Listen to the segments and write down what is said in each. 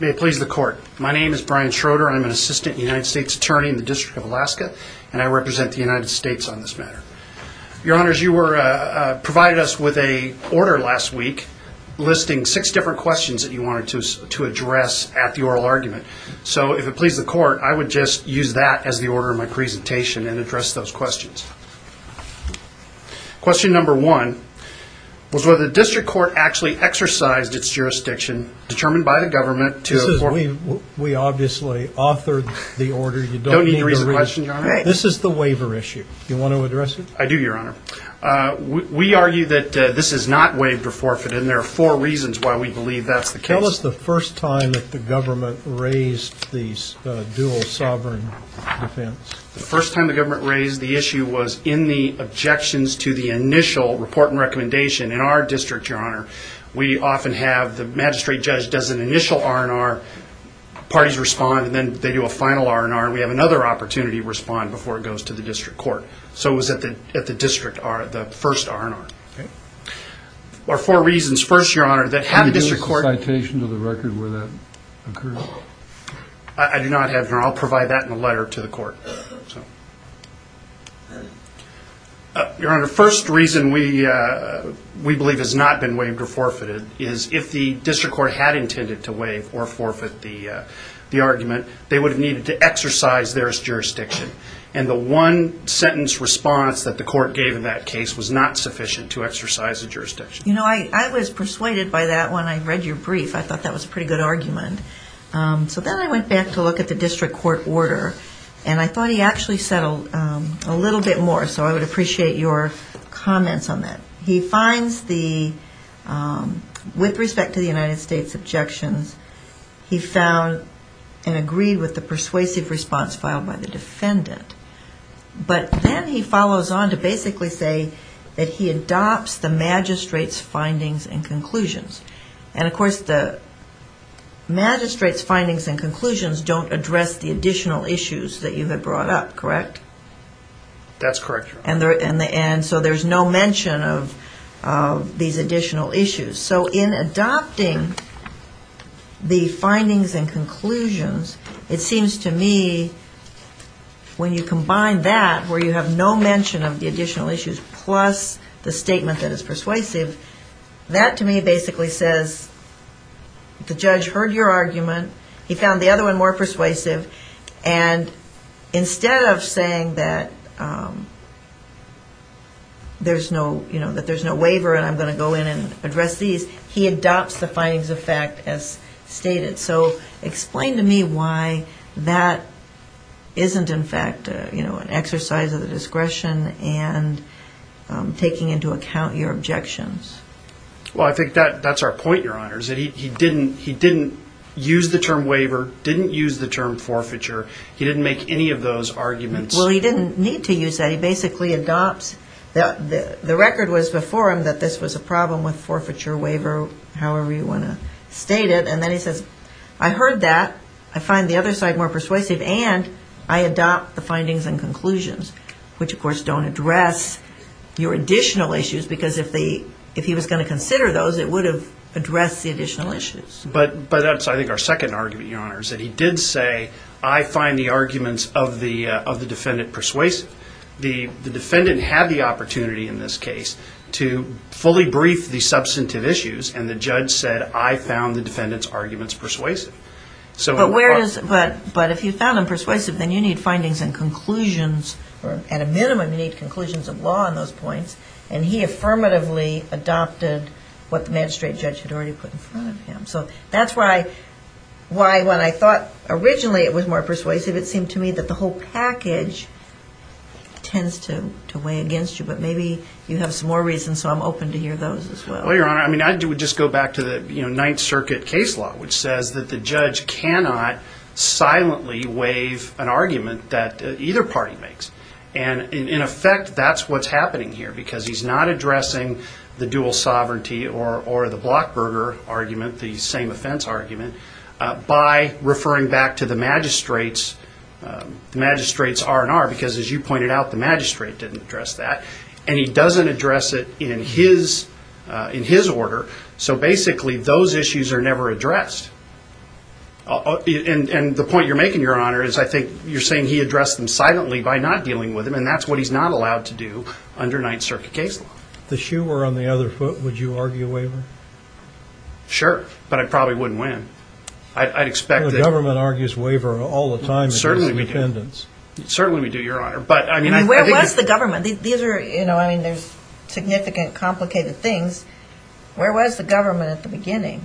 May it please the court. My name is Brian Schroeder. I'm an assistant United States attorney in the District of Alaska, and I represent the United States on this matter. Your honors, you were provided us with a order last week, listing six different questions that you wanted to address at the oral argument. So if it pleases the court, I would just use that as the order of my presentation and address those questions. Question number one was whether the district court actually exercised its jurisdiction determined by the government to... We obviously authored the order. You don't need to read the question, your honor. This is the waiver issue. Do you want to address it? I do, your honor. We argue that this is not waived or forfeited, and there are four reasons why we believe that's the case. Tell us the first time that the government raised the dual sovereign defense. The first time the government raised the issue was in the objections to the initial report and recommendation. In our district, your honor, we often have the magistrate judge does an initial R&R, parties respond, and then they do a final R&R, and we have another opportunity to respond before it goes to the district court. So it was at the district, the first R&R. Okay. There are four reasons. First, your honor, that had the district court... Can you give us a citation to the record where that occurred? I do not have one. I'll provide that in a letter to the court. Your honor, the first reason we believe has not been waived or forfeited is if the district court had intended to waive or forfeit the argument, they would have needed to exercise their jurisdiction, and the one-sentence response that the court gave in that case was not sufficient to exercise the jurisdiction. You know, I was persuaded by that when I read your brief. I thought that was a pretty good argument. So then I went back to look at the district court order, and I thought he actually said a little bit more, so I would appreciate your comments on that. He finds the, with respect to the United States objections, he found and agreed with the persuasive response filed by the defendant. But then he follows on to basically say that he adopts the magistrate's findings and conclusions. And, of course, the magistrate's findings and conclusions don't address the additional issues that you have brought up, correct? That's correct, your honor. And so there's no mention of these additional issues. So in adopting the findings and conclusions, it seems to me when you combine that, where you have no mention of the additional issues plus the statement that is persuasive, that to me basically says the judge heard your argument, he found the other one more persuasive, and instead of saying that there's no waiver and I'm going to go in and address these, he adopts the findings of fact as stated. So explain to me why that isn't, in fact, an exercise of the discretion and taking into account your objections. Well, I think that's our point, your honor, is that he didn't use the term waiver, didn't use the term forfeiture. He didn't make any of those arguments. Well, he didn't need to use that. He basically adopts, the record was before him that this was a problem with forfeiture, waiver, however you want to state it. And then he says, I heard that, I find the other side more persuasive, and I adopt the findings and conclusions, which, of course, don't address your additional issues, because if he was going to consider those, it would have addressed the additional issues. But that's, I think, our second argument, your honor, is that he did say, I find the arguments of the defendant persuasive. The defendant had the opportunity in this case to fully brief the substantive issues, and the judge said, I found the defendant's arguments persuasive. But if you found him persuasive, then you need findings and conclusions, or at a minimum you need conclusions of law on those points. And he affirmatively adopted what the magistrate judge had already put in front of him. So that's why when I thought originally it was more persuasive, it seemed to me that the whole package tends to weigh against you. But maybe you have some more reasons, so I'm open to hear those as well. Well, your honor, I would just go back to the Ninth Circuit case law, which says that the judge cannot silently waive an argument that either party makes. And, in effect, that's what's happening here, because he's not addressing the dual sovereignty or the Blockberger argument, the same offense argument, by referring back to the magistrate's R&R, because, as you pointed out, the magistrate didn't address that, and he doesn't address it in his order. So basically those issues are never addressed. And the point you're making, your honor, is I think you're saying he addressed them silently by not dealing with them, and that's what he's not allowed to do under Ninth Circuit case law. If you were on the other foot, would you argue a waiver? Sure, but I probably wouldn't win. I'd expect that. The government argues waiver all the time. Certainly we do. Certainly we do, your honor. Where was the government? There's significant, complicated things. Where was the government at the beginning?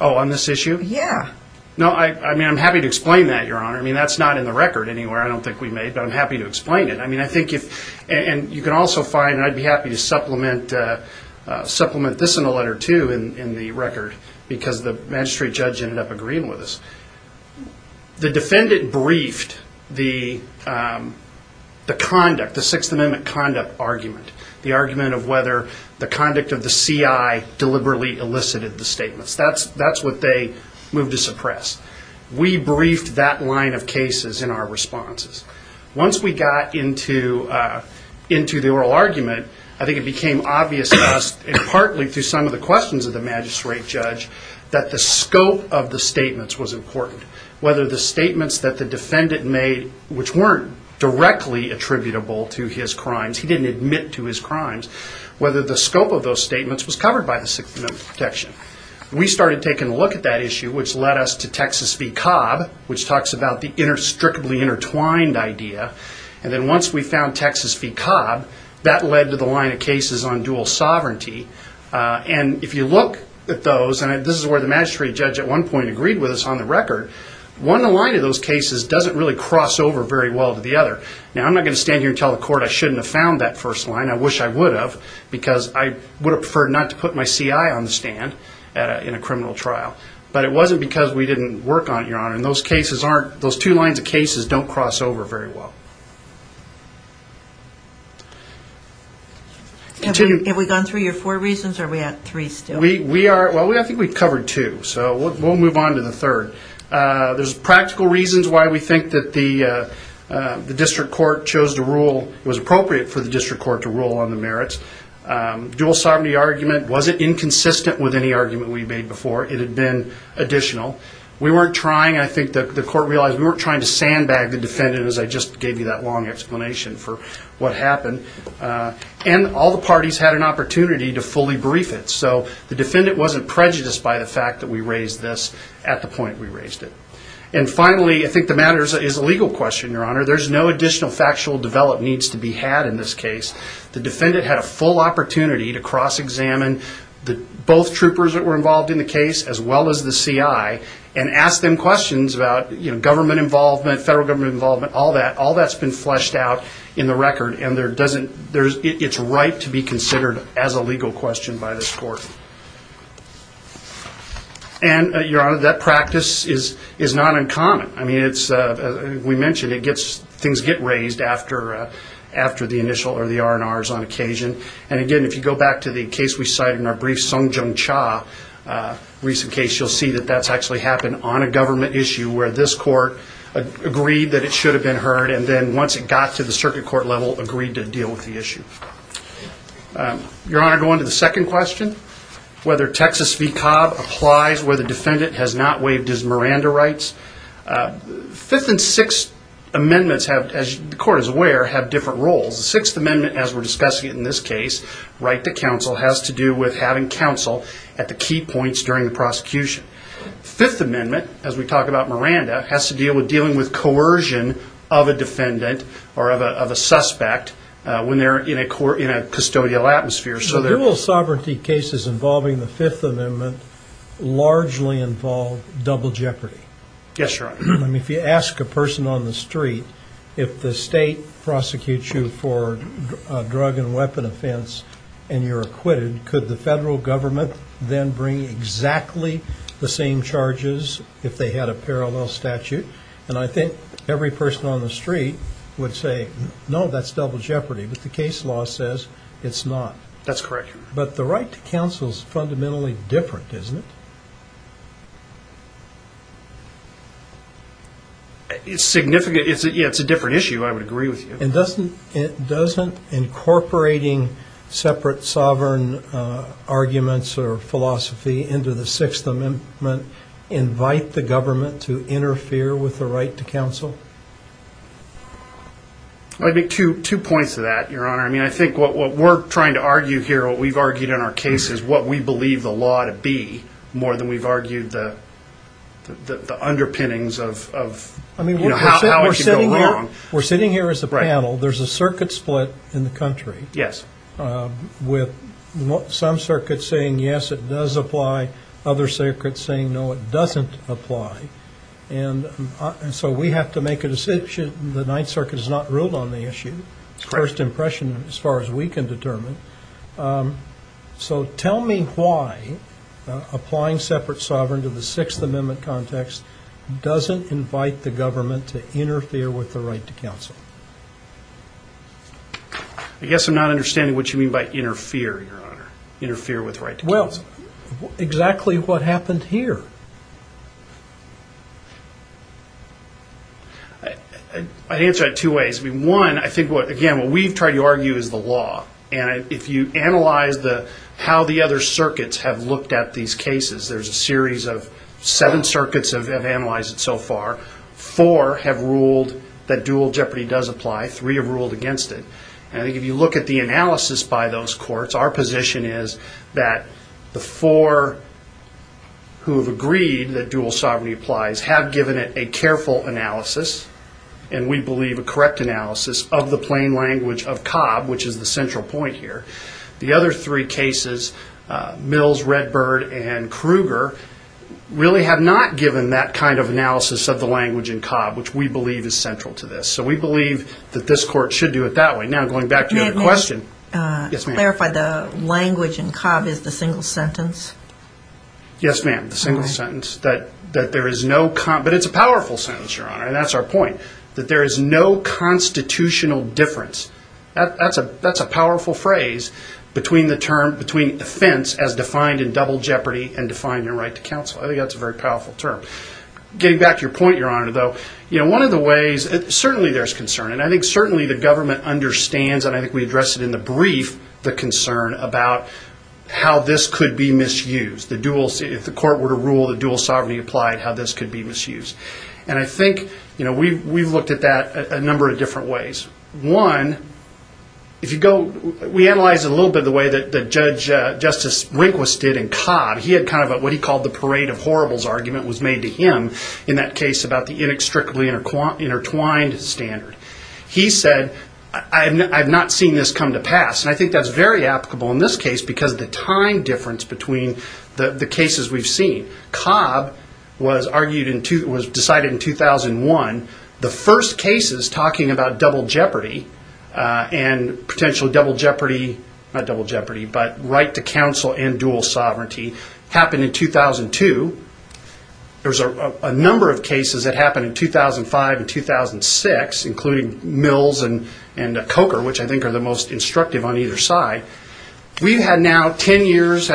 Oh, on this issue? Yeah. No, I mean, I'm happy to explain that, your honor. I mean, that's not in the record anywhere, I don't think we made, but I'm happy to explain it. I mean, I think if, and you can also find, and I'd be happy to supplement this in the letter, too, in the record, because the magistrate judge ended up agreeing with us. The defendant briefed the conduct, the Sixth Amendment conduct argument, the argument of whether the conduct of the CI deliberately elicited the statements. That's what they moved to suppress. We briefed that line of cases in our responses. Once we got into the oral argument, I think it became obvious to us, and partly through some of the questions of the magistrate judge, that the scope of the statements was important. Whether the statements that the defendant made, which weren't directly attributable to his crimes, he didn't admit to his crimes, whether the scope of those statements was covered by the Sixth Amendment protection. We started taking a look at that issue, which led us to Texas v. Cobb, which talks about the inextricably intertwined idea. And then once we found Texas v. Cobb, that led to the line of cases on dual sovereignty. And if you look at those, and this is where the magistrate judge at one point agreed with us on the record, one line of those cases doesn't really cross over very well to the other. Now, I'm not going to stand here and tell the court I shouldn't have found that first line. I wish I would have, because I would have preferred not to put my CI on the stand in a criminal trial. But it wasn't because we didn't work on it, Your Honor. And those two lines of cases don't cross over very well. Have we gone through your four reasons, or are we at three still? Well, I think we've covered two, so we'll move on to the third. There's practical reasons why we think that the district court chose to rule, was appropriate for the district court to rule on the merits. Dual sovereignty argument wasn't inconsistent with any argument we made before. It had been additional. We weren't trying, I think the court realized, we weren't trying to sandbag the defendant, as I just gave you that long explanation for what happened. And all the parties had an opportunity to fully brief it. So the defendant wasn't prejudiced by the fact that we raised this at the point we raised it. And finally, I think the matter is a legal question, Your Honor. There's no additional factual develop needs to be had in this case. The defendant had a full opportunity to cross-examine both troopers that were involved in the case, as well as the CI, and ask them questions about government involvement, federal government involvement, all that. All that's been fleshed out in the record, and it's right to be considered as a legal question by this court. And, Your Honor, that practice is not uncommon. I mean, as we mentioned, things get raised after the initial or the R&Rs on occasion. And again, if you go back to the case we cited in our brief, Sung Jung Cha, recent case, you'll see that that's actually happened on a government issue, where this court agreed that it should have been heard, and then once it got to the circuit court level, agreed to deal with the issue. Your Honor, going to the second question, whether Texas v. Cobb applies where the defendant has not waived his Miranda rights. Fifth and sixth amendments, as the court is aware, have different roles. The sixth amendment, as we're discussing it in this case, right to counsel, has to do with having counsel at the key points during the prosecution. Fifth amendment, as we talk about Miranda, has to deal with dealing with coercion of a defendant or of a suspect when they're in a custodial atmosphere. Dual sovereignty cases involving the fifth amendment largely involve double jeopardy. Yes, Your Honor. I mean, if you ask a person on the street, if the state prosecutes you for a drug and weapon offense and you're acquitted, could the federal government then bring exactly the same charges if they had a parallel statute? And I think every person on the street would say, no, that's double jeopardy. But the case law says it's not. That's correct, Your Honor. But the right to counsel is fundamentally different, isn't it? It's significant. Yeah, it's a different issue, I would agree with you. And doesn't incorporating separate sovereign arguments or philosophy into the sixth amendment invite the government to interfere with the right to counsel? I think two points to that, Your Honor. I mean, I think what we're trying to argue here, what we've argued in our case, is what we believe the law to be more than we've argued the underpinnings of how it could go wrong. We're sitting here as a panel. There's a circuit split in the country with some circuits saying, yes, it does apply, other circuits saying, no, it doesn't apply. And so we have to make a decision. The Ninth Circuit has not ruled on the issue, first impression as far as we can determine. So tell me why applying separate sovereign to the sixth amendment context doesn't invite the government to interfere with the right to counsel? I guess I'm not understanding what you mean by interfere, Your Honor. Interfere with right to counsel. Well, exactly what happened here? I'd answer that two ways. One, I think, again, what we've tried to argue is the law. And if you analyze how the other circuits have looked at these cases, there's a series of seven circuits have analyzed it so far. Four have ruled that dual jeopardy does apply. Three have ruled against it. And I think if you look at the analysis by those courts, our position is that the four who have agreed that dual sovereignty applies have given it a careful analysis, and we believe a correct analysis, of the plain language of Cobb, which is the central point here. The other three cases, Mills, Redbird, and Kruger, really have not given that kind of analysis of the language in Cobb, which we believe is central to this. So we believe that this court should do it that way. Now, going back to your question. May I clarify, the language in Cobb is the single sentence? Yes, ma'am, the single sentence. But it's a powerful sentence, Your Honor, and that's our point. That there is no constitutional difference. That's a powerful phrase between offense as defined in double jeopardy and defined in right to counsel. I think that's a very powerful term. Getting back to your point, Your Honor, though, one of the ways, certainly there's concern, and I think certainly the government understands, and I think we addressed it in the brief, the concern about how this could be misused. If the court were to rule that dual sovereignty applied, how this could be misused. And I think we've looked at that a number of different ways. One, if you go, we analyzed it a little bit the way that Judge Justice Rehnquist did in Cobb. He had kind of what he called the parade of horribles argument was made to him in that case about the inextricably intertwined standard. He said, I've not seen this come to pass. And I think that's very applicable in this case because of the time difference between the cases we've seen. Cobb was decided in 2001. The first cases talking about double jeopardy and potential double jeopardy, not double jeopardy, but right to counsel and dual sovereignty happened in 2002. There was a number of cases that happened in 2005 and 2006, including Mills and Coker, which I think are the most instructive on either side. We've had now ten years,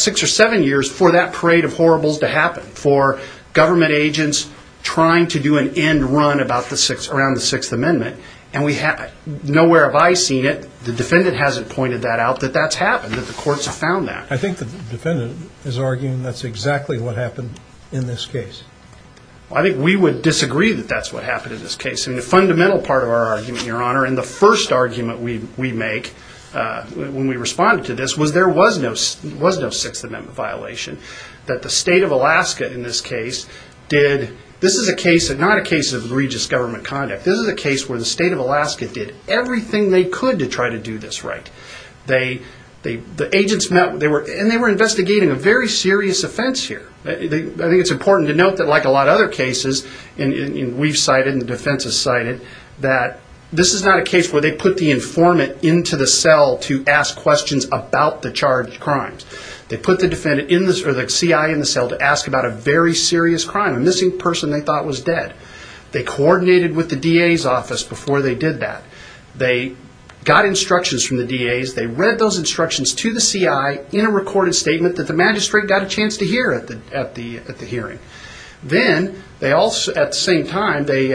six or seven years, for that parade of horribles to happen, for government agents trying to do an end run around the Sixth Amendment. Nowhere have I seen it. The defendant hasn't pointed that out that that's happened, that the courts have found that. I think the defendant is arguing that's exactly what happened in this case. I think we would disagree that that's what happened in this case. The fundamental part of our argument, Your Honor, and the first argument we make when we responded to this, was there was no Sixth Amendment violation, that the state of Alaska, in this case, did... This is not a case of egregious government conduct. This is a case where the state of Alaska did everything they could to try to do this right. The agents met... And they were investigating a very serious offense here. I think it's important to note that, like a lot of other cases, and we've cited and the defense has cited, that this is not a case where they put the informant into the cell to ask questions about the charged crimes. They put the CI in the cell to ask about a very serious crime, a missing person they thought was dead. They coordinated with the DA's office before they did that. They got instructions from the DA's. They read those instructions to the CI in a recorded statement that the magistrate got a chance to hear at the hearing. Then, at the same time, they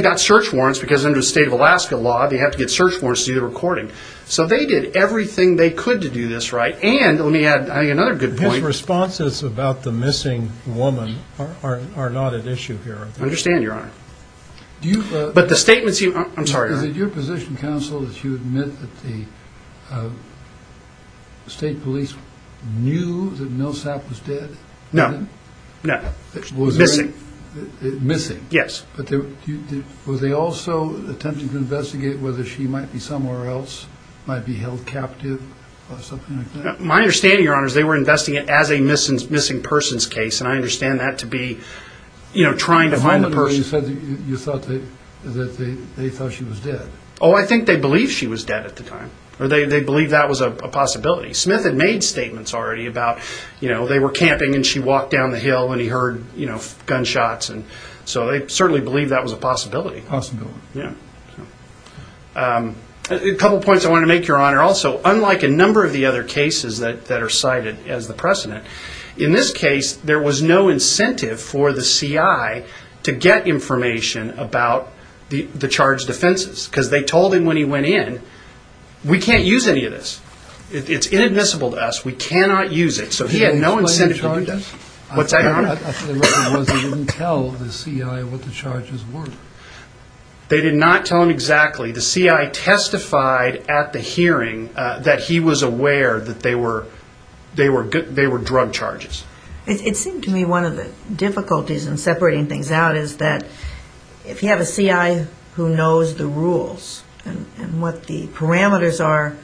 got search warrants, because under the state of Alaska law, they have to get search warrants to see the recording. So they did everything they could to do this right. And let me add another good point. His responses about the missing woman are not at issue here. I understand, Your Honor. But the statements he... I'm sorry. Is it your position, counsel, that you admit that the state police knew that Millsap was dead? No. No. Missing. Missing. Yes. But were they also attempting to investigate whether she might be somewhere else, might be held captive or something like that? My understanding, Your Honor, is they were investigating it as a missing person's case, and I understand that to be trying to find the person. You said that they thought she was dead. Oh, I think they believed she was dead at the time. They believed that was a possibility. Smith had made statements already about they were camping and she walked down the hill and he heard gunshots. So they certainly believed that was a possibility. Possibility. Yeah. A couple points I want to make, Your Honor. Also, unlike a number of the other cases that are cited as the precedent, in this case there was no incentive for the CI to get information about the charged defenses, because they told him when he went in, we can't use any of this. It's inadmissible to us. We cannot use it. So he had no incentive to do that. What's that, Your Honor? I thought the reason was he didn't tell the CI what the charges were. They did not tell him exactly. The CI testified at the hearing that he was aware that they were drug charges. It seemed to me one of the difficulties in separating things out is that if you have a CI who knows the rules and what the parameters are,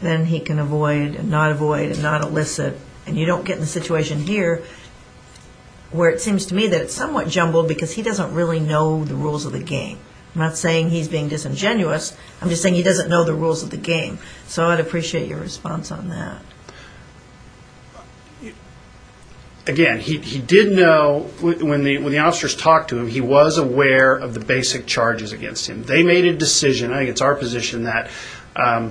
then he can avoid and not avoid and not elicit. And you don't get in a situation here where it seems to me that it's somewhat jumbled because he doesn't really know the rules of the game. I'm not saying he's being disingenuous. I'm just saying he doesn't know the rules of the game. So I'd appreciate your response on that. Again, he did know when the officers talked to him, he was aware of the basic charges against him. They made a decision, I think it's our position, that I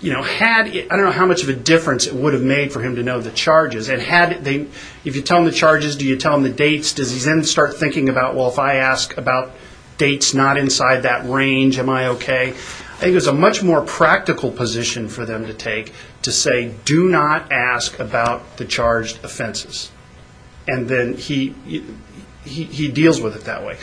don't know how much of a difference it would have made for him to know the charges. If you tell him the charges, do you tell him the dates? Does he then start thinking about, well, if I ask about dates not inside that range, am I okay? I think it was a much more practical position for them to take to say, do not ask about the charged offenses. And then he deals with it that way.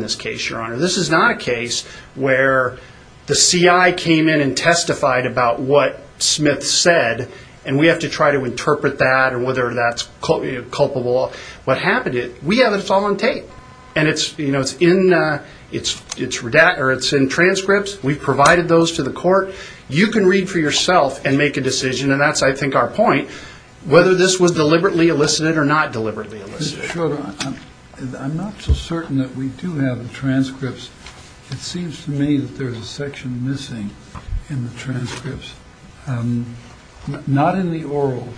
This is not a case where the CI came in and testified about what Smith said, and we have to try to interpret that or whether that's culpable. What happened is we have it all on tape, and it's in transcripts. We've provided those to the court. You can read for yourself and make a decision, and that's, I think, our point, whether this was deliberately elicited or not deliberately elicited. Mr. Schroeder, I'm not so certain that we do have the transcripts. It seems to me that there's a section missing in the transcripts, not in the oral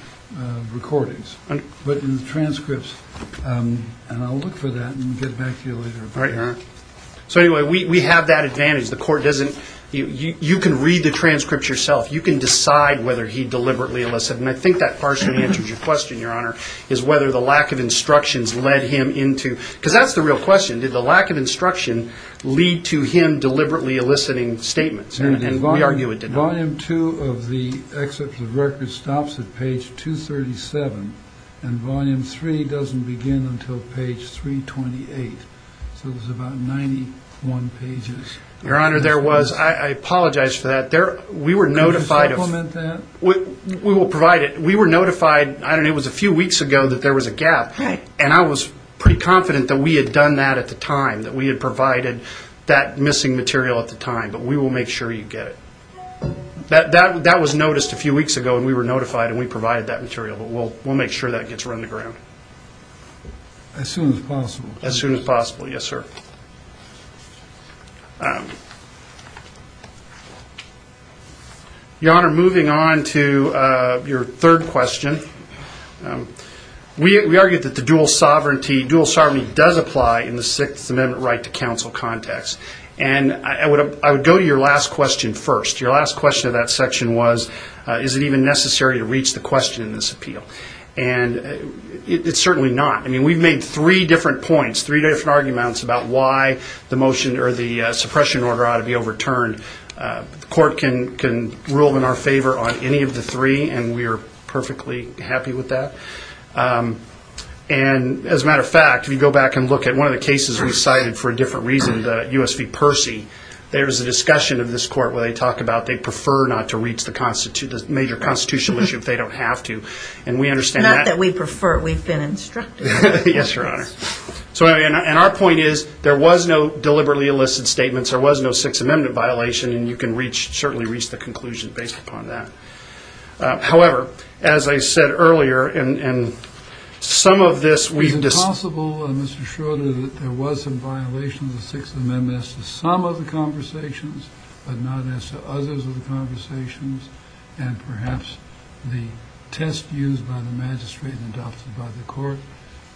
recordings, but in the transcripts, and I'll look for that and get back to you later. So anyway, we have that advantage. The court doesn't – you can read the transcripts yourself. You can decide whether he deliberately elicited, and I think that partially answers your question, Your Honor, is whether the lack of instructions led him into – because that's the real question. Did the lack of instruction lead to him deliberately eliciting statements? And we argue it did not. Volume 2 of the excerpt of the record stops at page 237, and Volume 3 doesn't begin until page 328, so it was about 91 pages. Your Honor, there was – I apologize for that. We were notified of – Could you supplement that? We will provide it. We were notified – I don't know, it was a few weeks ago that there was a gap, and I was pretty confident that we had done that at the time, that we had provided that missing material at the time, but we will make sure you get it. That was noticed a few weeks ago, and we were notified, and we provided that material, but we'll make sure that gets run to ground. As soon as possible, please. As soon as possible, yes, sir. Thank you. Your Honor, moving on to your third question. We argue that the dual sovereignty does apply in the Sixth Amendment right to counsel context, and I would go to your last question first. Your last question of that section was, is it even necessary to reach the question in this appeal? And it's certainly not. I mean, we've made three different points, three different arguments about why the motion or the suppression order ought to be overturned. The court can rule in our favor on any of the three, and we are perfectly happy with that. And as a matter of fact, if you go back and look at one of the cases we cited for a different reason, the U.S. v. Percy, there is a discussion of this court where they talk about they prefer not to reach the major constitutional issue if they don't have to, and we understand that. It's not that we prefer. We've been instructed. Yes, Your Honor. And our point is there was no deliberately illicit statements, there was no Sixth Amendment violation, and you can certainly reach the conclusion based upon that. However, as I said earlier, and some of this we've discussed. Is it possible, Mr. Schroeder, that there was a violation of the Sixth Amendment as to some of the conversations but not as to others of the conversations, and perhaps the test used by the magistrate and adopted by the court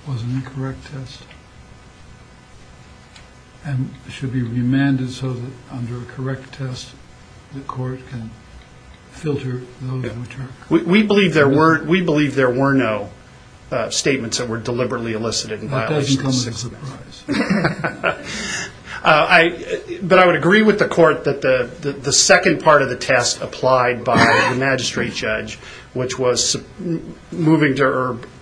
was an incorrect test and should be remanded so that under a correct test the court can filter those which are correct? We believe there were no statements that were deliberately elicited in violation of the Sixth Amendment. That doesn't come as a surprise. But I would agree with the court that the second part of the test applied by the magistrate judge, which was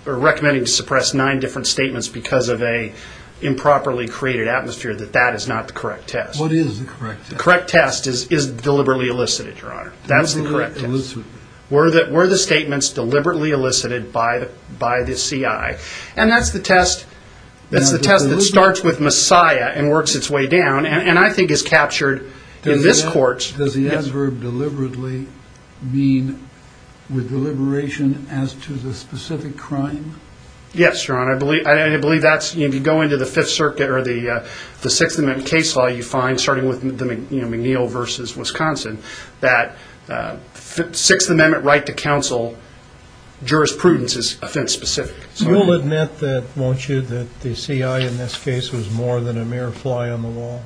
recommending to suppress nine different statements because of an improperly created atmosphere, that that is not the correct test. What is the correct test? The correct test is deliberately elicited, Your Honor. That's the correct test. Deliberately elicited. And that's the test that starts with Messiah and works its way down and I think is captured in this court. Does the adverb deliberately mean with deliberation as to the specific crime? Yes, Your Honor. I believe that's, if you go into the Fifth Circuit or the Sixth Amendment case law, you find, starting with McNeil v. Wisconsin, that Sixth Amendment right to counsel jurisprudence is offense specific. You will admit that, won't you, that the CI in this case was more than a mere fly on the wall?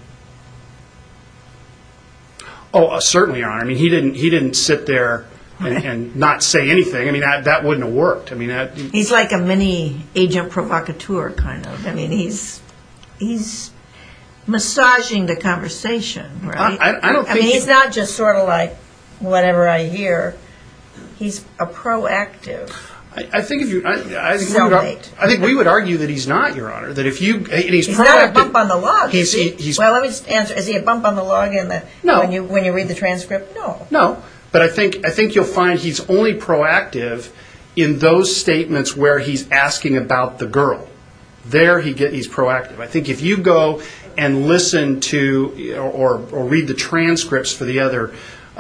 Oh, certainly, Your Honor. I mean, he didn't sit there and not say anything. I mean, that wouldn't have worked. He's like a mini agent provocateur kind of. I mean, he's massaging the conversation. I mean, he's not just sort of like whatever I hear. He's a proactive. I think we would argue that he's not, Your Honor. He's not a bump on the log. Well, let me answer. Is he a bump on the log when you read the transcript? No. No, but I think you'll find he's only proactive in those statements where he's asking about the girl. There he's proactive. I think if you go and listen to or read the transcripts for the other,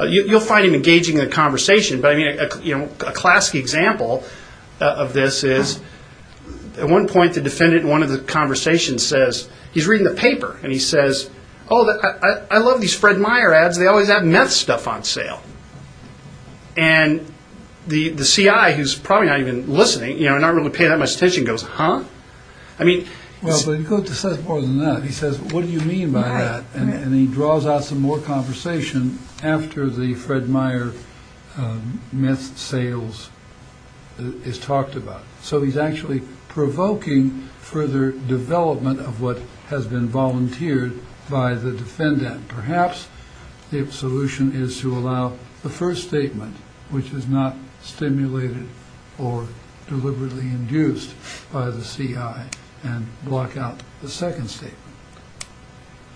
you'll find him engaging in the conversation. But, I mean, a classic example of this is at one point the defendant in one of the conversations says he's reading the paper. And he says, oh, I love these Fred Meyer ads. They always have meth stuff on sale. And the C.I., who's probably not even listening, you know, not really paying that much attention, goes, huh? Well, but he goes to say more than that. He says, what do you mean by that? And he draws out some more conversation after the Fred Meyer meth sales is talked about. So he's actually provoking further development of what has been volunteered by the defendant. Perhaps the solution is to allow the first statement, which is not stimulated or deliberately induced by the C.I., and block out the second statement.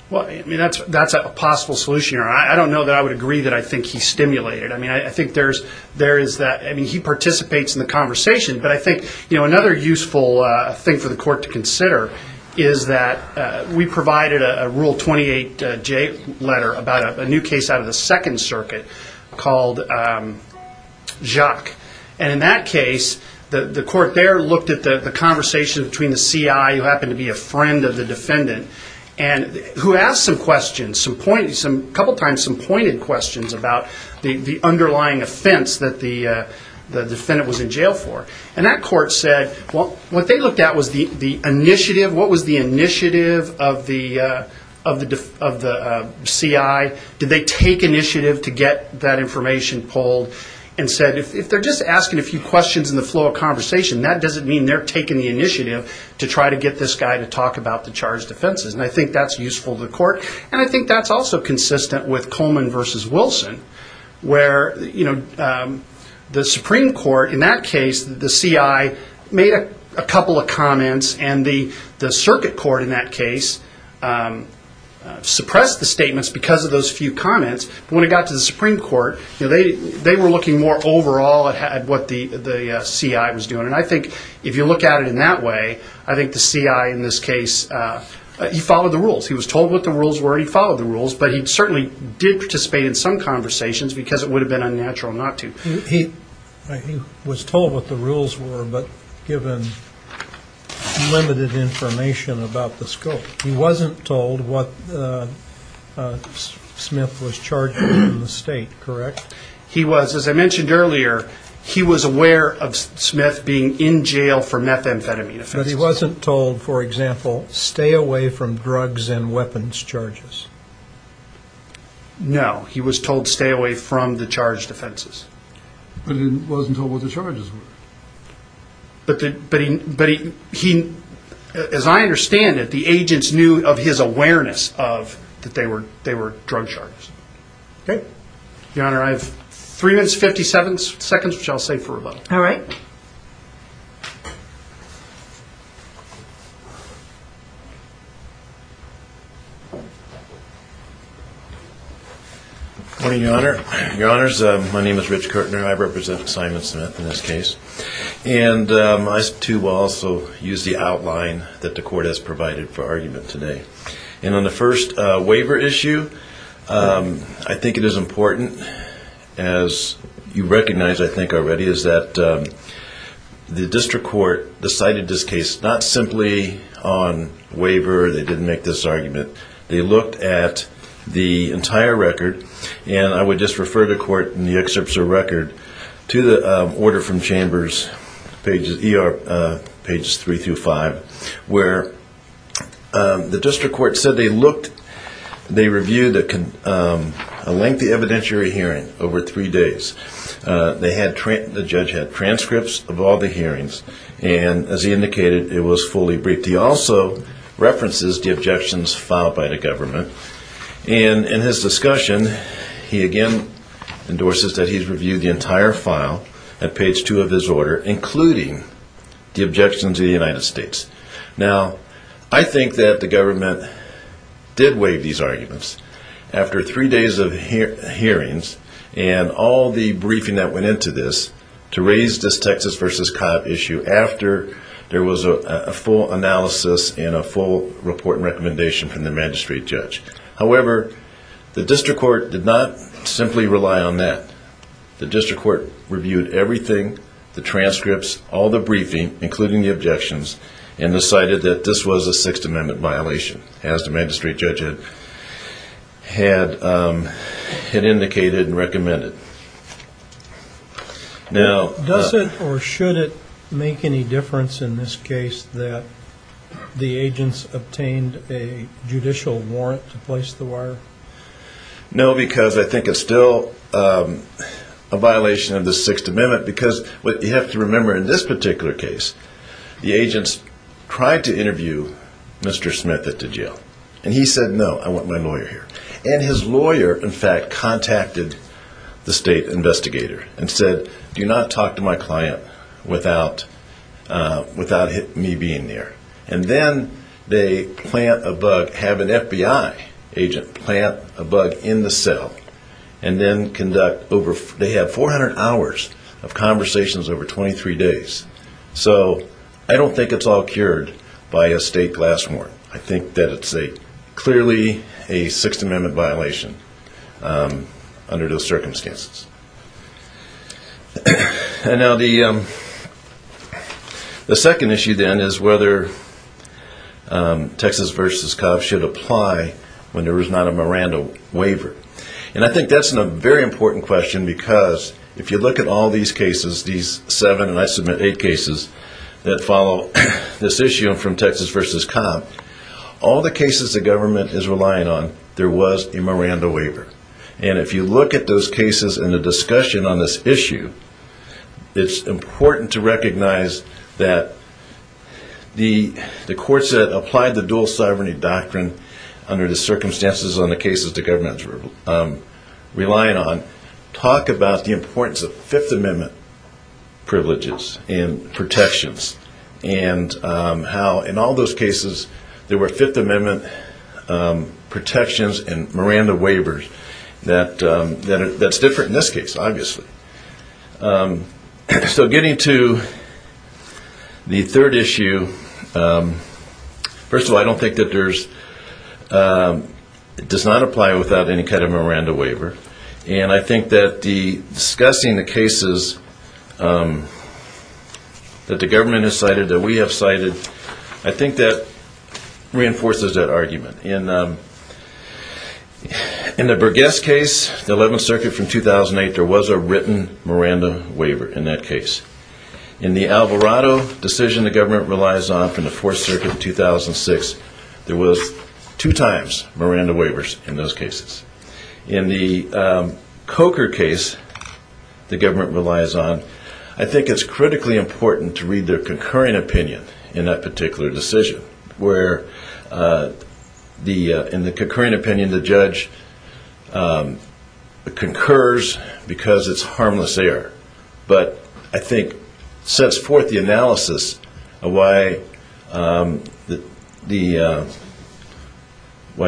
Well, I mean, that's a possible solution. I don't know that I would agree that I think he's stimulated. I mean, I think there is that. I mean, he participates in the conversation. But I think, you know, another useful thing for the court to consider is that we provided a Rule 28J letter about a new case out of the Second Circuit called Jacques. And in that case, the court there looked at the conversation between the C.I., who happened to be a friend of the defendant, and who asked some questions, a couple times some pointed questions about the underlying offense that the defendant was in jail for. And that court said, well, what they looked at was the initiative. What was the initiative of the C.I.? Did they take initiative to get that information pulled? And said, if they're just asking a few questions in the flow of conversation, that doesn't mean they're taking the initiative to try to get this guy to talk about the charged offenses. And I think that's useful to the court. And I think that's also consistent with Coleman v. Wilson, where the Supreme Court in that case, the C.I. made a couple of comments, and the Circuit Court in that case suppressed the statements because of those few comments. When it got to the Supreme Court, they were looking more overall at what the C.I. was doing. And I think if you look at it in that way, I think the C.I. in this case, he followed the rules. He was told what the rules were. He followed the rules. But he certainly did participate in some conversations because it would have been unnatural not to. He was told what the rules were but given limited information about the scope. He wasn't told what Smith was charged with in the state, correct? He was. As I mentioned earlier, he was aware of Smith being in jail for methamphetamine offenses. But he wasn't told, for example, stay away from drugs and weapons charges. No. He was told stay away from the charged offenses. But he wasn't told what the charges were. But as I understand it, the agents knew of his awareness that they were drug charges. Okay. Your Honor, I have three minutes, 57 seconds, which I'll save for rebuttal. All right. Good morning, Your Honor. Your Honors, my name is Rich Kirtner. I represent Simon Smith in this case. And I, too, will also use the outline that the court has provided for argument today. And on the first waiver issue, I think it is important, as you recognize I think already, is that the district court decided this case not simply on waiver or they didn't make this argument. They looked at the entire record. And I would just refer the court in the excerpts of the record to the order from Chambers, pages 3 through 5, where the district court said they looked, they reviewed a lengthy evidentiary hearing over three days. The judge had transcripts of all the hearings. And as he indicated, it was fully briefed. He also references the objections filed by the government. And in his discussion, he again endorses that he's reviewed the entire file at page 2 of his order, including the objections of the United States. Now, I think that the government did waive these arguments after three days of hearings and all the briefing that went into this to raise this Texas v. Cobb issue after there was a full analysis and a full report and recommendation from the magistrate judge. However, the district court did not simply rely on that. The district court reviewed everything, the transcripts, all the briefing, including the objections, and decided that this was a Sixth Amendment violation, as the magistrate judge had indicated and recommended. Does it or should it make any difference in this case that the agents obtained a judicial warrant to place the wire? No, because I think it's still a violation of the Sixth Amendment, because what you have to remember in this particular case, the agents tried to interview Mr. Smith at the jail. And he said, no, I want my lawyer here. And his lawyer, in fact, contacted the state investigator and said, do not talk to my client without me being there. And then they plant a bug, have an FBI agent plant a bug in the cell, and then they have 400 hours of conversations over 23 days. So I don't think it's all cured by a state glass warrant. I think that it's clearly a Sixth Amendment violation under those circumstances. And now the second issue, then, is whether Texas v. COPS should apply when there is not a Miranda waiver. And I think that's a very important question, because if you look at all these cases, these seven and I submit eight cases that follow this issue from Texas v. COPS, all the cases the government is relying on, there was a Miranda waiver. And if you look at those cases and the discussion on this issue, it's important to recognize that the courts that applied the dual sovereignty doctrine under the circumstances on the cases the government is relying on talk about the importance of Fifth Amendment privileges and protections and how in all those cases there were Fifth Amendment protections and Miranda waivers that's different in this case, obviously. So getting to the third issue, first of all, I don't think that there's it does not apply without any kind of Miranda waiver. And I think that discussing the cases that the government has cited, that we have cited, I think that reinforces that argument. In the Burgess case, the 11th Circuit from 2008, there was a written Miranda waiver in that case. In the Alvarado decision the government relies on from the Fourth Circuit in 2006, there was two times Miranda waivers in those cases. In the Coker case the government relies on, I think it's critically important to read their concurring opinion in that particular decision, where in the concurring opinion the judge concurs because it's harmless error, but I think sets forth the analysis of why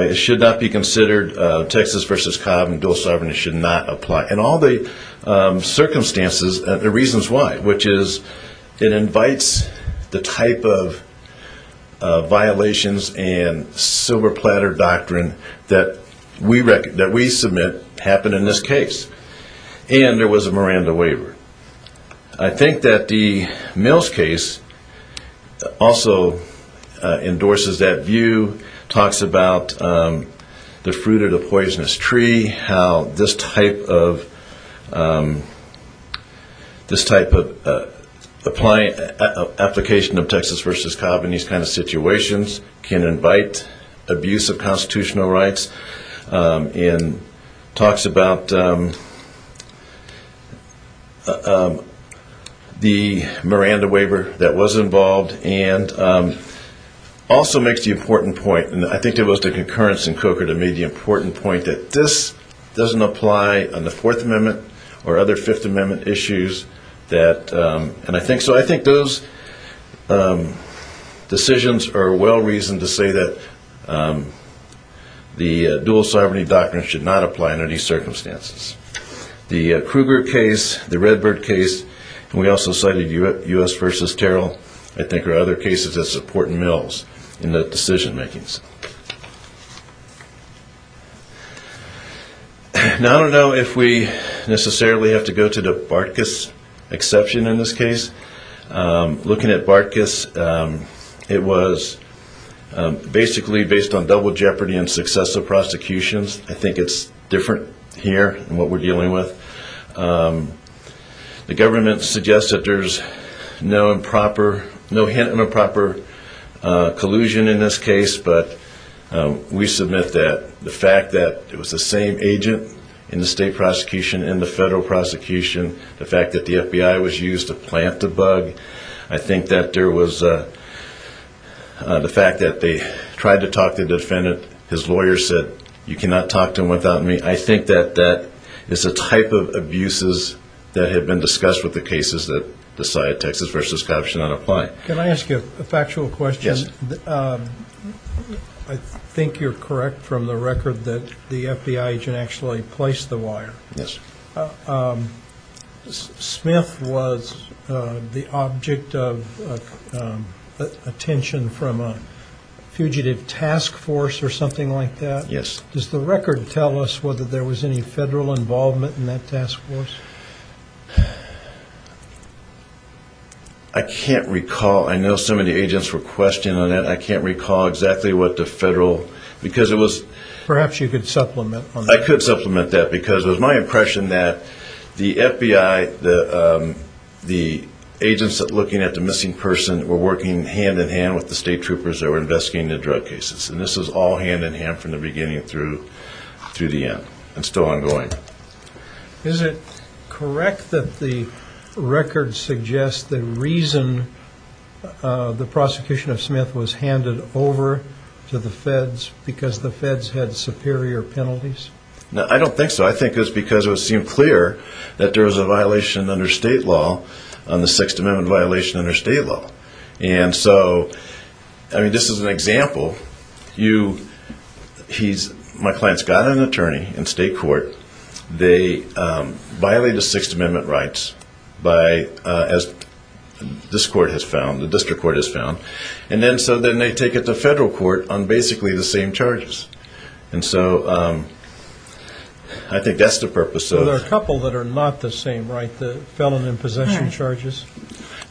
it should not be considered, Texas v. Cobb and dual sovereignty should not apply. And all the circumstances and the reasons why, which is it invites the type of violations and silver platter doctrine that we submit happen in this case. And there was a Miranda waiver. I think that the Mills case also endorses that view, talks about the fruit of the poisonous tree, how this type of application of Texas v. Cobb in these kinds of situations can invite abuse of constitutional rights, and talks about the Miranda waiver that was involved, and also makes the important point, and I think it was the concurrence in Coker that made the important point, that this doesn't apply on the Fourth Amendment or other Fifth Amendment issues. So I think those decisions are well-reasoned to say that the dual sovereignty doctrine should not apply in any circumstances. The Kruger case, the Redbird case, and we also cited U.S. v. Terrell, I think are other cases that support Mills in the decision-makings. Now I don't know if we necessarily have to go to the Bartkus exception in this case. Looking at Bartkus, it was basically based on double jeopardy and successive prosecutions. I think it's different here in what we're dealing with. The government suggests that there's no improper, no hint of improper collusion in this case, but we submit that the fact that it was the same agent in the state prosecution and the federal prosecution, the fact that the FBI was used to plant the bug, I think that there was the fact that they tried to talk the defendant. His lawyer said, you cannot talk to him without me. I think that that is a type of abuses that have been discussed with the cases that decided Texas v. Cobb should not apply. Can I ask you a factual question? Yes. I think you're correct from the record that the FBI agent actually placed the wire. Yes. Smith was the object of attention from a fugitive task force or something like that? Yes. Does the record tell us whether there was any federal involvement in that task force? I can't recall. I know some of the agents were questioning it. I can't recall exactly what the federal, because it was – Perhaps you could supplement on that. I could supplement that, because it was my impression that the FBI, the agents looking at the missing person were working hand in hand with the state troopers that were investigating the drug cases, and this was all hand in hand from the beginning through the end and still ongoing. Is it correct that the record suggests the reason the prosecution of Smith was handed over to the feds, because the feds had superior penalties? I don't think so. I think it was because it seemed clear that there was a violation under state law, the Sixth Amendment violation under state law. And so, I mean, this is an example. My client's got an attorney in state court. They violate the Sixth Amendment rights by, as this court has found, the district court has found, and then so then they take it to federal court on basically the same charges. And so I think that's the purpose of – There are a couple that are not the same, right, the felon in possession charges?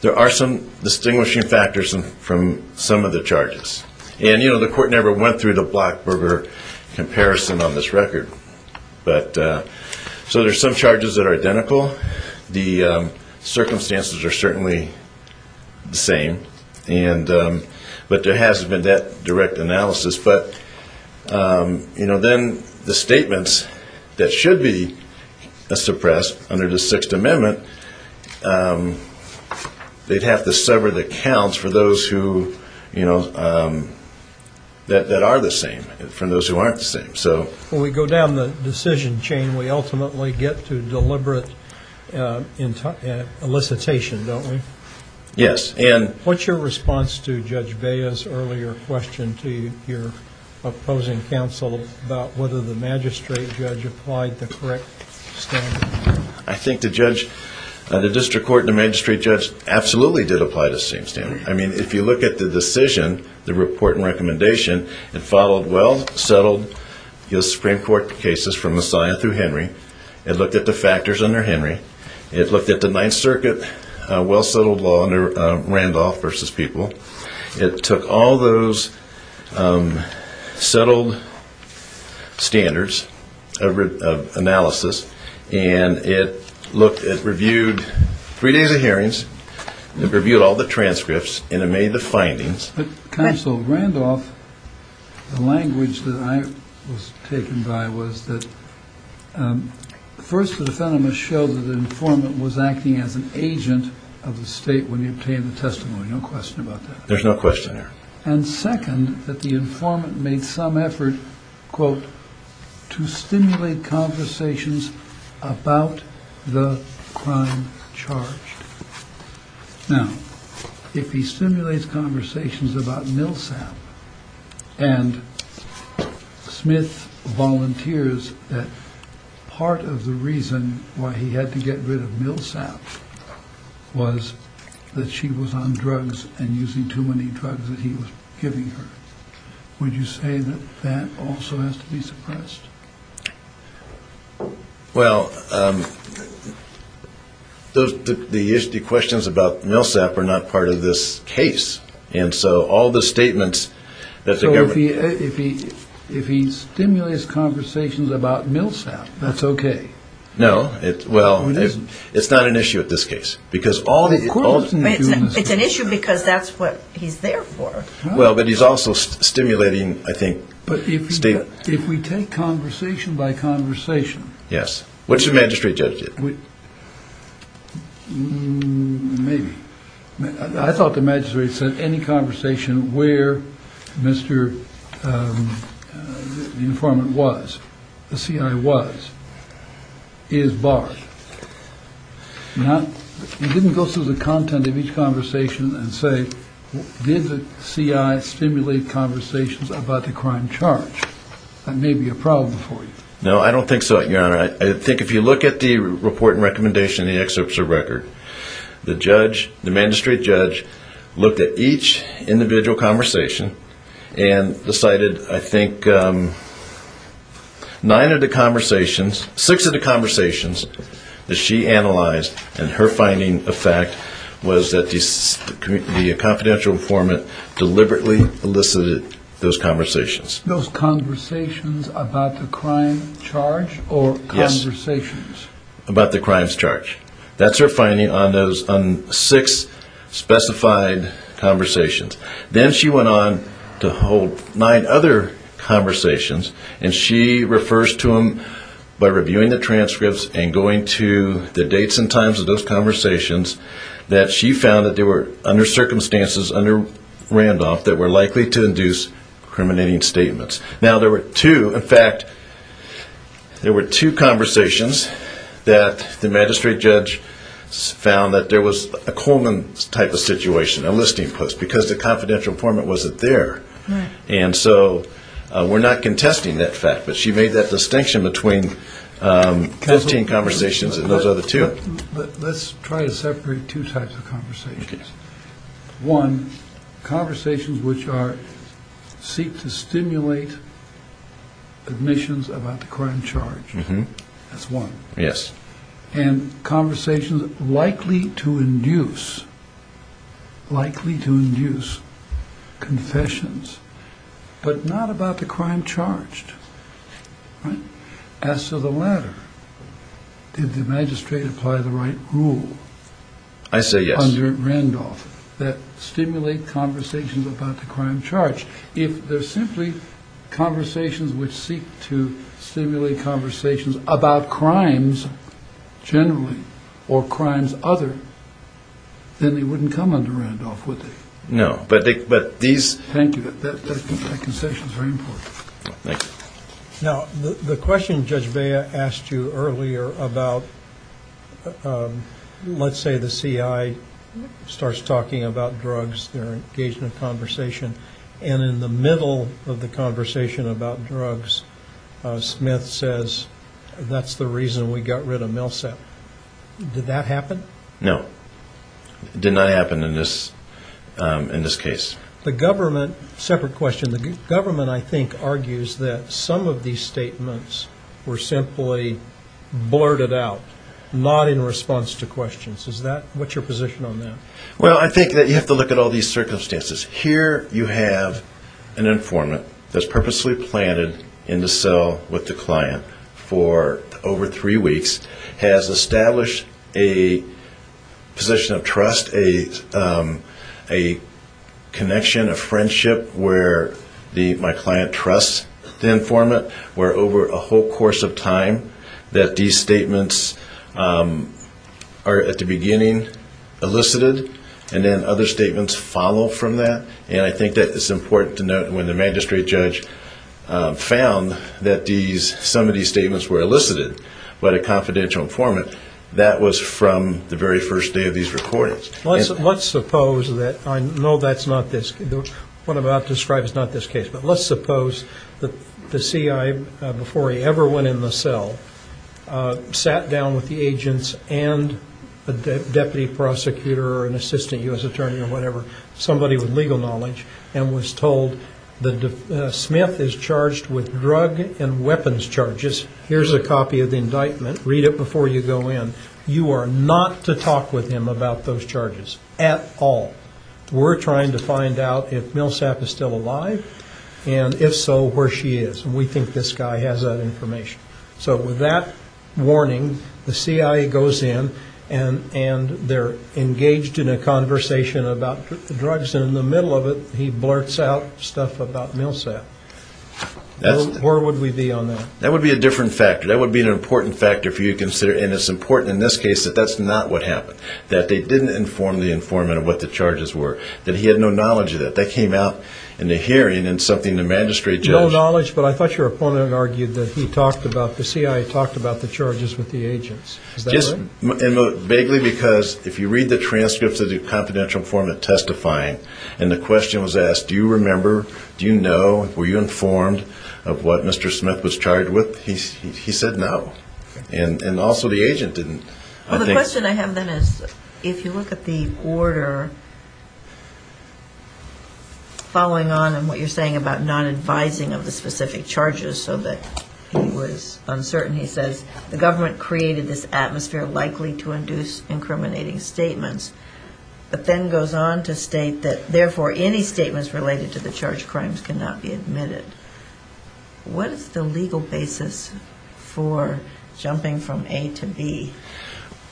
There are some distinguishing factors from some of the charges. And, you know, the court never went through the Blackburger comparison on this record. So there's some charges that are identical. The circumstances are certainly the same, but there hasn't been that direct analysis. But, you know, then the statements that should be suppressed under the Sixth Amendment, they'd have to sever the counts for those who, you know, that are the same from those who aren't the same. When we go down the decision chain, we ultimately get to deliberate elicitation, don't we? Yes. What's your response to Judge Bea's earlier question to your opposing counsel about whether the magistrate judge applied the correct standard? I think the judge – the district court and the magistrate judge absolutely did apply the same standard. I mean, if you look at the decision, the report and recommendation, it followed well-settled Supreme Court cases from Messiah through Henry. It looked at the factors under Henry. It looked at the Ninth Circuit, a well-settled law under Randolph v. People. It took all those settled standards of analysis, and it reviewed three days of hearings. It reviewed all the transcripts, and it made the findings. But, Counsel Randolph, the language that I was taken by was that, first, the defendant must show that the informant was acting as an agent of the state when he obtained the testimony. No question about that. There's no question there. And, second, that the informant made some effort, quote, to stimulate conversations about the crime charged. Now, if he stimulates conversations about Milsap, and Smith volunteers that part of the reason why he had to get rid of Milsap was that she was on drugs and using too many drugs that he was giving her, would you say that that also has to be suppressed? Well, the questions about Milsap are not part of this case. And so all the statements that the government ---- So if he stimulates conversations about Milsap, that's okay? No. Well, it's not an issue at this case because all the ---- It's an issue because that's what he's there for. If we take conversation by conversation ---- Yes. What should the magistrate judge do? Maybe. I thought the magistrate said any conversation where the informant was, the CI was, is barred. Now, you didn't go through the content of each conversation and say, did the CI stimulate conversations about the crime charged? That may be a problem for you. No, I don't think so, Your Honor. I think if you look at the report and recommendation in the excerpts of the record, the judge, the magistrate judge, looked at each individual conversation and decided, I think, nine of the conversations, six of the conversations that she analyzed, and her finding of fact was that the confidential informant deliberately elicited those conversations. Those conversations about the crime charged or conversations? Yes, about the crimes charged. That's her finding on six specified conversations. Then she went on to hold nine other conversations, and she refers to them by reviewing the transcripts and going to the dates and times of those conversations, that she found that there were, under circumstances, under Randolph, that were likely to induce discriminating statements. Now, there were two, in fact, there were two conversations that the magistrate judge found that there was a Coleman type of situation, a listing post, because the confidential informant wasn't there. And so we're not contesting that fact, but she made that distinction between 15 conversations and those other two. Let's try to separate two types of conversations. One, conversations which are, seek to stimulate admissions about the crime charged. That's one. Yes. And conversations likely to induce, likely to induce confessions, but not about the crime charged. As to the latter, did the magistrate apply the right rule? I say yes. Under Randolph, that stimulate conversations about the crime charged. If they're simply conversations which seek to stimulate conversations about crimes generally or crimes other, then they wouldn't come under Randolph, would they? No. Thank you. That concession is very important. Thank you. Now, the question Judge Bea asked you earlier about, let's say the CI starts talking about drugs, they're engaged in a conversation, and in the middle of the conversation about drugs, Smith says, that's the reason we got rid of Millsap. Did that happen? No. It did not happen in this case. The government, separate question, the government, I think, argues that some of these statements were simply blurted out, not in response to questions. Is that, what's your position on that? Well, I think that you have to look at all these circumstances. Here you have an informant that's purposely planted in the cell with the client for over three weeks, has established a position of trust, a connection, a friendship where my client trusts the informant, where over a whole course of time that these statements are, at the beginning, elicited, and then other statements follow from that. And I think that it's important to note when the magistrate judge found that some of these statements were elicited by the confidential informant, that was from the very first day of these recordings. Let's suppose that, I know that's not this, what I'm about to describe is not this case, but let's suppose that the CIA, before he ever went in the cell, sat down with the agents and a deputy prosecutor or an assistant U.S. attorney or whatever, somebody with legal knowledge, and was told that Smith is charged with drug and weapons charges. Here's a copy of the indictment. Read it before you go in. You are not to talk with him about those charges at all. We're trying to find out if Millsap is still alive, and if so, where she is. And we think this guy has that information. So with that warning, the CIA goes in, and they're engaged in a conversation about drugs, and in the middle of it, he blurts out stuff about Millsap. Where would we be on that? That would be a different factor. That would be an important factor for you to consider. And it's important in this case that that's not what happened, that they didn't inform the informant of what the charges were, that he had no knowledge of that. That came out in the hearing in something the magistrate judged. No knowledge, but I thought your opponent argued that he talked about, the CIA talked about the charges with the agents. Is that right? Just vaguely, because if you read the transcripts of the confidential informant testifying, and the question was asked, do you remember, do you know, were you informed of what Mr. Smith was charged with? He said no. And also the agent didn't. Well, the question I have then is, if you look at the order following on, and what you're saying about non-advising of the specific charges so that he was uncertain, he says the government created this atmosphere likely to induce incriminating statements, but then goes on to state that, therefore, any statements related to the charged crimes cannot be admitted. What is the legal basis for jumping from A to B?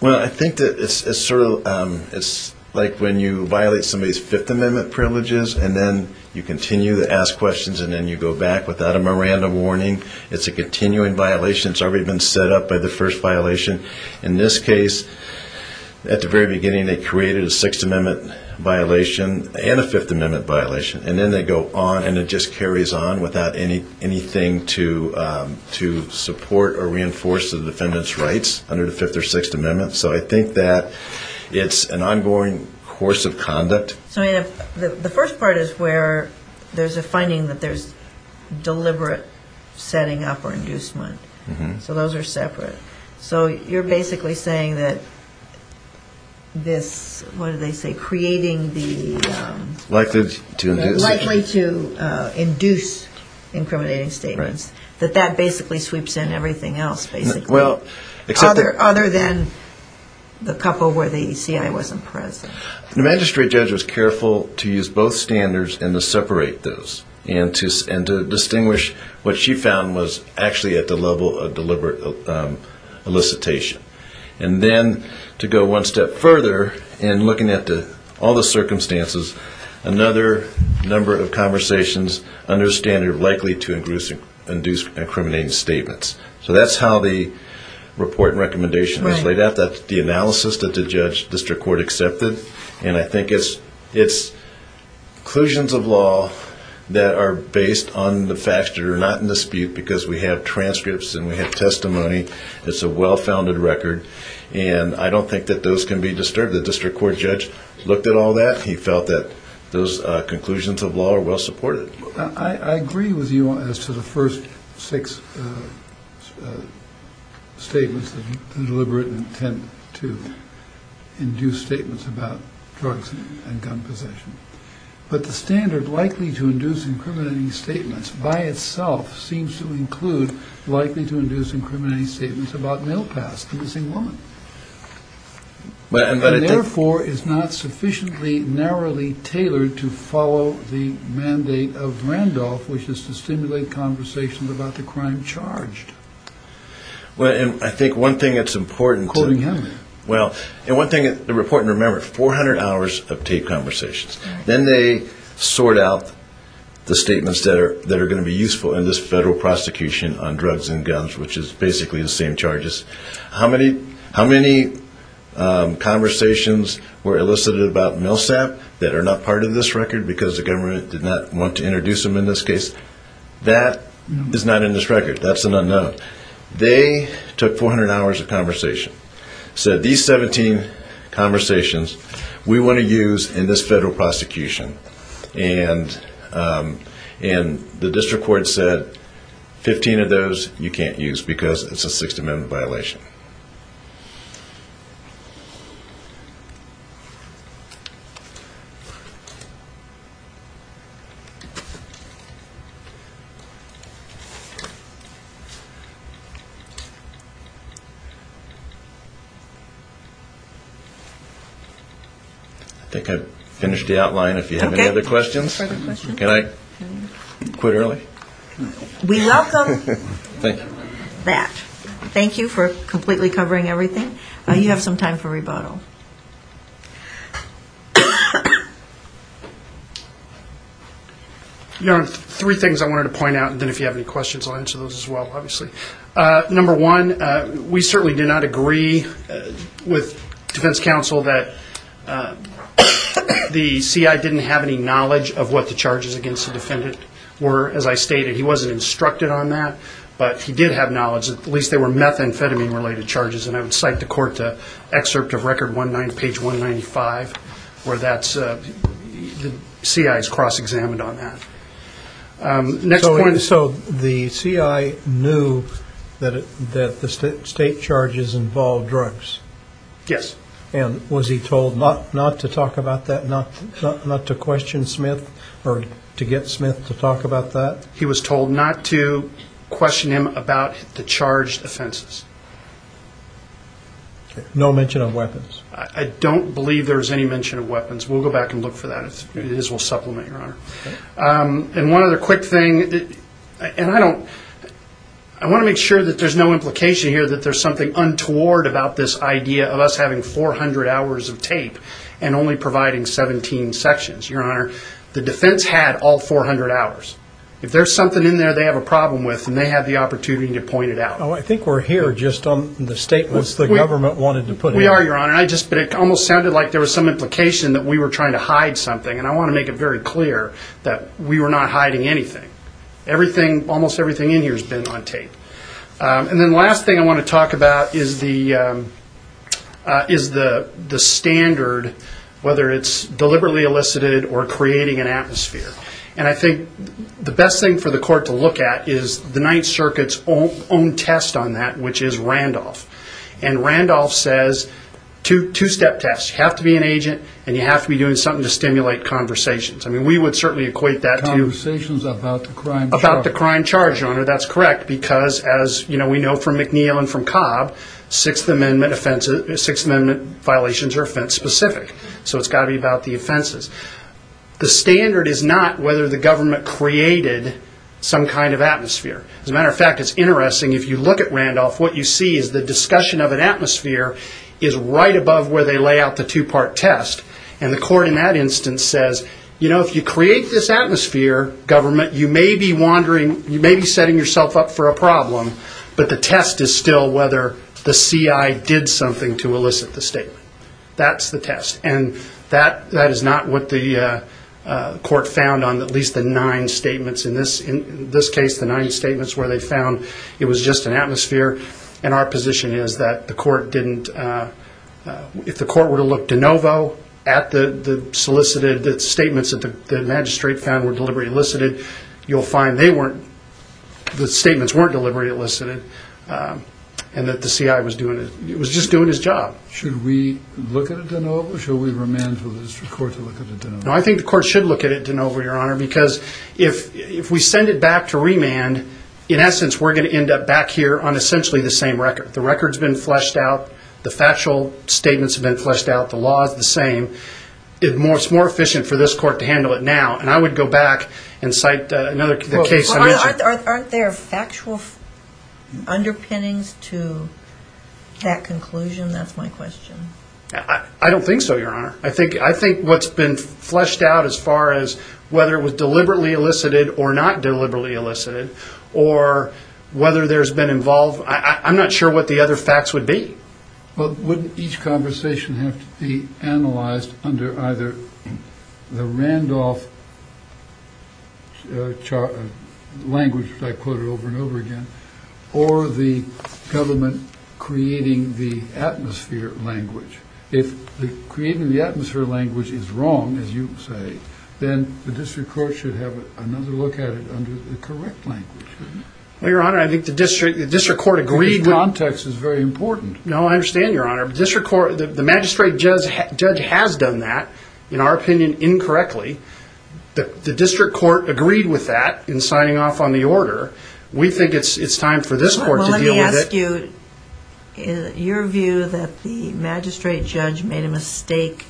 Well, I think that it's sort of like when you violate somebody's Fifth Amendment privileges, and then you continue to ask questions, and then you go back without a Miranda warning. It's a continuing violation. It's already been set up by the first violation. In this case, at the very beginning, they created a Sixth Amendment violation and a Fifth Amendment violation, and then they go on and it just carries on without anything to support or reinforce the defendant's rights under the Fifth or Sixth Amendment. So I think that it's an ongoing course of conduct. So the first part is where there's a finding that there's deliberate setting up or inducement. So those are separate. So you're basically saying that this, what did they say, creating the... Likely to induce. Likely to induce incriminating statements, that that basically sweeps in everything else, basically, other than the couple where the ECI wasn't present. The magistrate judge was careful to use both standards and to separate those and to distinguish what she found was actually at the level of deliberate elicitation. And then to go one step further in looking at all the circumstances, another number of conversations under the standard of likely to induce incriminating statements. So that's how the report and recommendation is laid out. That's the analysis that the district court accepted, and I think it's conclusions of law that are based on the facts that are not in dispute because we have transcripts and we have testimony. It's a well-founded record, and I don't think that those can be disturbed. The district court judge looked at all that. He felt that those conclusions of law are well supported. I agree with you as to the first six statements, the deliberate intent to induce statements about drugs and gun possession. But the standard likely to induce incriminating statements by itself seems to include likely to induce incriminating statements about mail pass to the same woman. And therefore is not sufficiently narrowly tailored to follow the mandate of Randolph, which is to stimulate conversations about the crime charged. I think one thing that's important to remember, 400 hours of taped conversations. Then they sort out the statements that are going to be useful in this federal prosecution on drugs and guns, which is basically the same charges. How many conversations were elicited about Milsap that are not part of this record because the government did not want to introduce them in this case? That is not in this record. That's an unknown. They took 400 hours of conversation, said these 17 conversations we want to use in this federal prosecution. And the district court said 15 of those you can't use because it's a Sixth Amendment violation. I think I've finished the outline. If you have any other questions, can I quit early? We welcome that. Thank you for completely covering everything. You have some time for rebuttal. You're on three things. Three things I wanted to point out, and then if you have any questions, I'll answer those as well, obviously. Number one, we certainly did not agree with defense counsel that the CI didn't have any knowledge of what the charges against the defendant were. As I stated, he wasn't instructed on that, but he did have knowledge. At least they were methamphetamine related charges, and I would cite the court to excerpt of record page 195 where the CI is cross-examined on that. So the CI knew that the state charges involved drugs? Yes. And was he told not to talk about that, not to question Smith or to get Smith to talk about that? He was told not to question him about the charged offenses. No mention of weapons? I don't believe there's any mention of weapons. We'll go back and look for that. We'll supplement, Your Honor. And one other quick thing, and I want to make sure that there's no implication here that there's something untoward about this idea of us having 400 hours of tape and only providing 17 sections. Your Honor, the defense had all 400 hours. If there's something in there they have a problem with, then they have the opportunity to point it out. I think we're here just on the statements the government wanted to put in. We are, Your Honor. It almost sounded like there was some implication that we were trying to hide something, and I want to make it very clear that we were not hiding anything. Almost everything in here has been on tape. And then the last thing I want to talk about is the standard, whether it's deliberately elicited or creating an atmosphere. And I think the best thing for the court to look at is the Ninth Circuit's own test on that, which is Randolph. And Randolph says two-step tests. You have to be an agent, and you have to be doing something to stimulate conversations. We would certainly equate that to conversations about the crime charge, Your Honor. Because, as we know from McNeil and from Cobb, Sixth Amendment violations are offense-specific. So it's got to be about the offenses. The standard is not whether the government created some kind of atmosphere. As a matter of fact, it's interesting, if you look at Randolph, what you see is the discussion of an atmosphere is right above where they lay out the two-part test. And the court in that instance says, you know, if you create this atmosphere, government, you may be setting yourself up for a problem, but the test is still whether the CI did something to elicit the statement. That's the test. And that is not what the court found on at least the nine statements. In this case, the nine statements where they found it was just an atmosphere. And our position is that the court didn't, if the court were to look de novo at the solicited, the statements that the magistrate found were deliberately elicited, you'll find they weren't, the statements weren't deliberately elicited, and that the CI was just doing his job. Should we look at it de novo? Should we remand the district court to look at it de novo? No, I think the court should look at it de novo, Your Honor, because if we send it back to remand, in essence, we're going to end up back here on essentially the same record. The record's been fleshed out. The factual statements have been fleshed out. The law is the same. It's more efficient for this court to handle it now. And I would go back and cite another case. Aren't there factual underpinnings to that conclusion? That's my question. I don't think so, Your Honor. I think what's been fleshed out as far as whether it was deliberately elicited or not deliberately elicited or whether there's been involved, I'm not sure what the other facts would be. Well, wouldn't each conversation have to be analyzed under either the Randolph language, which I quoted over and over again, or the government creating the atmosphere language? If creating the atmosphere language is wrong, as you say, then the district court should have another look at it under the correct language, shouldn't it? Well, Your Honor, I think the district court agreed. The context is very important. No, I understand, Your Honor. The magistrate judge has done that, in our opinion, incorrectly. The district court agreed with that in signing off on the order. We think it's time for this court to deal with it. Well, let me ask you, your view that the magistrate judge made a mistake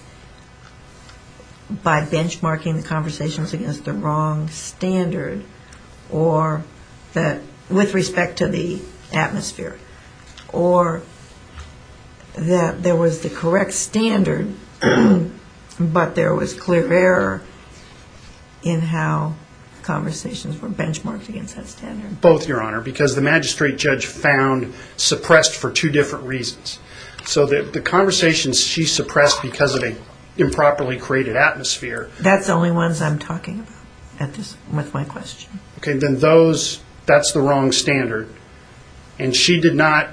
by benchmarking the conversations against the wrong standard with respect to the atmosphere or that there was the correct standard, but there was clear error in how conversations were benchmarked against that standard? Both, Your Honor, because the magistrate judge found suppressed for two different reasons. So the conversations she suppressed because of an improperly created atmosphere. That's the only ones I'm talking about with my question. Okay, then that's the wrong standard, and she did not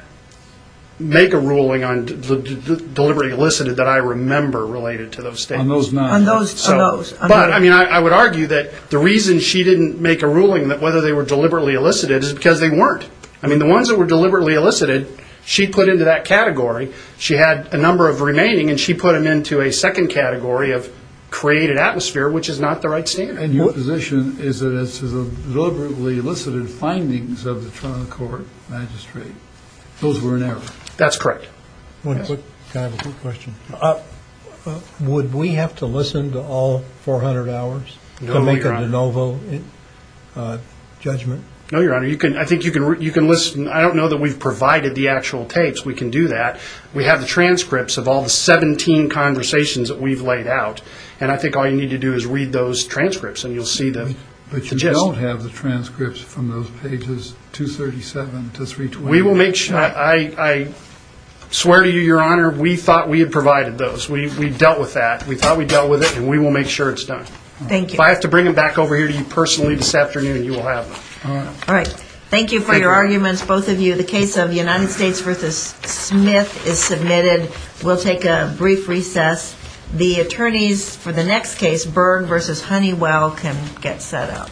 make a ruling on deliberately elicited that I remember related to those statements. On those not. On those. But, I mean, I would argue that the reason she didn't make a ruling that whether they were deliberately elicited is because they weren't. I mean, the ones that were deliberately elicited she put into that category. She had a number of remaining, and she put them into a second category of created atmosphere, which is not the right standard. And your position is that it's deliberately elicited findings of the Toronto Court Magistrate. Those were in error. That's correct. One quick question. Would we have to listen to all 400 hours to make a de novo judgment? No, Your Honor. I think you can listen. I don't know that we've provided the actual tapes. We can do that. We have the transcripts of all the 17 conversations that we've laid out, and I think all you need to do is read those transcripts, and you'll see them. But you don't have the transcripts from those pages 237 to 320. We will make sure. I swear to you, Your Honor, we thought we had provided those. We dealt with that. We thought we dealt with it, and we will make sure it's done. Thank you. If I have to bring them back over here to you personally this afternoon, you will have them. All right. Thank you for your arguments, both of you. The case of United States v. Smith is submitted. We'll take a brief recess. The attorneys for the next case, Byrd v. Honeywell, can get set up.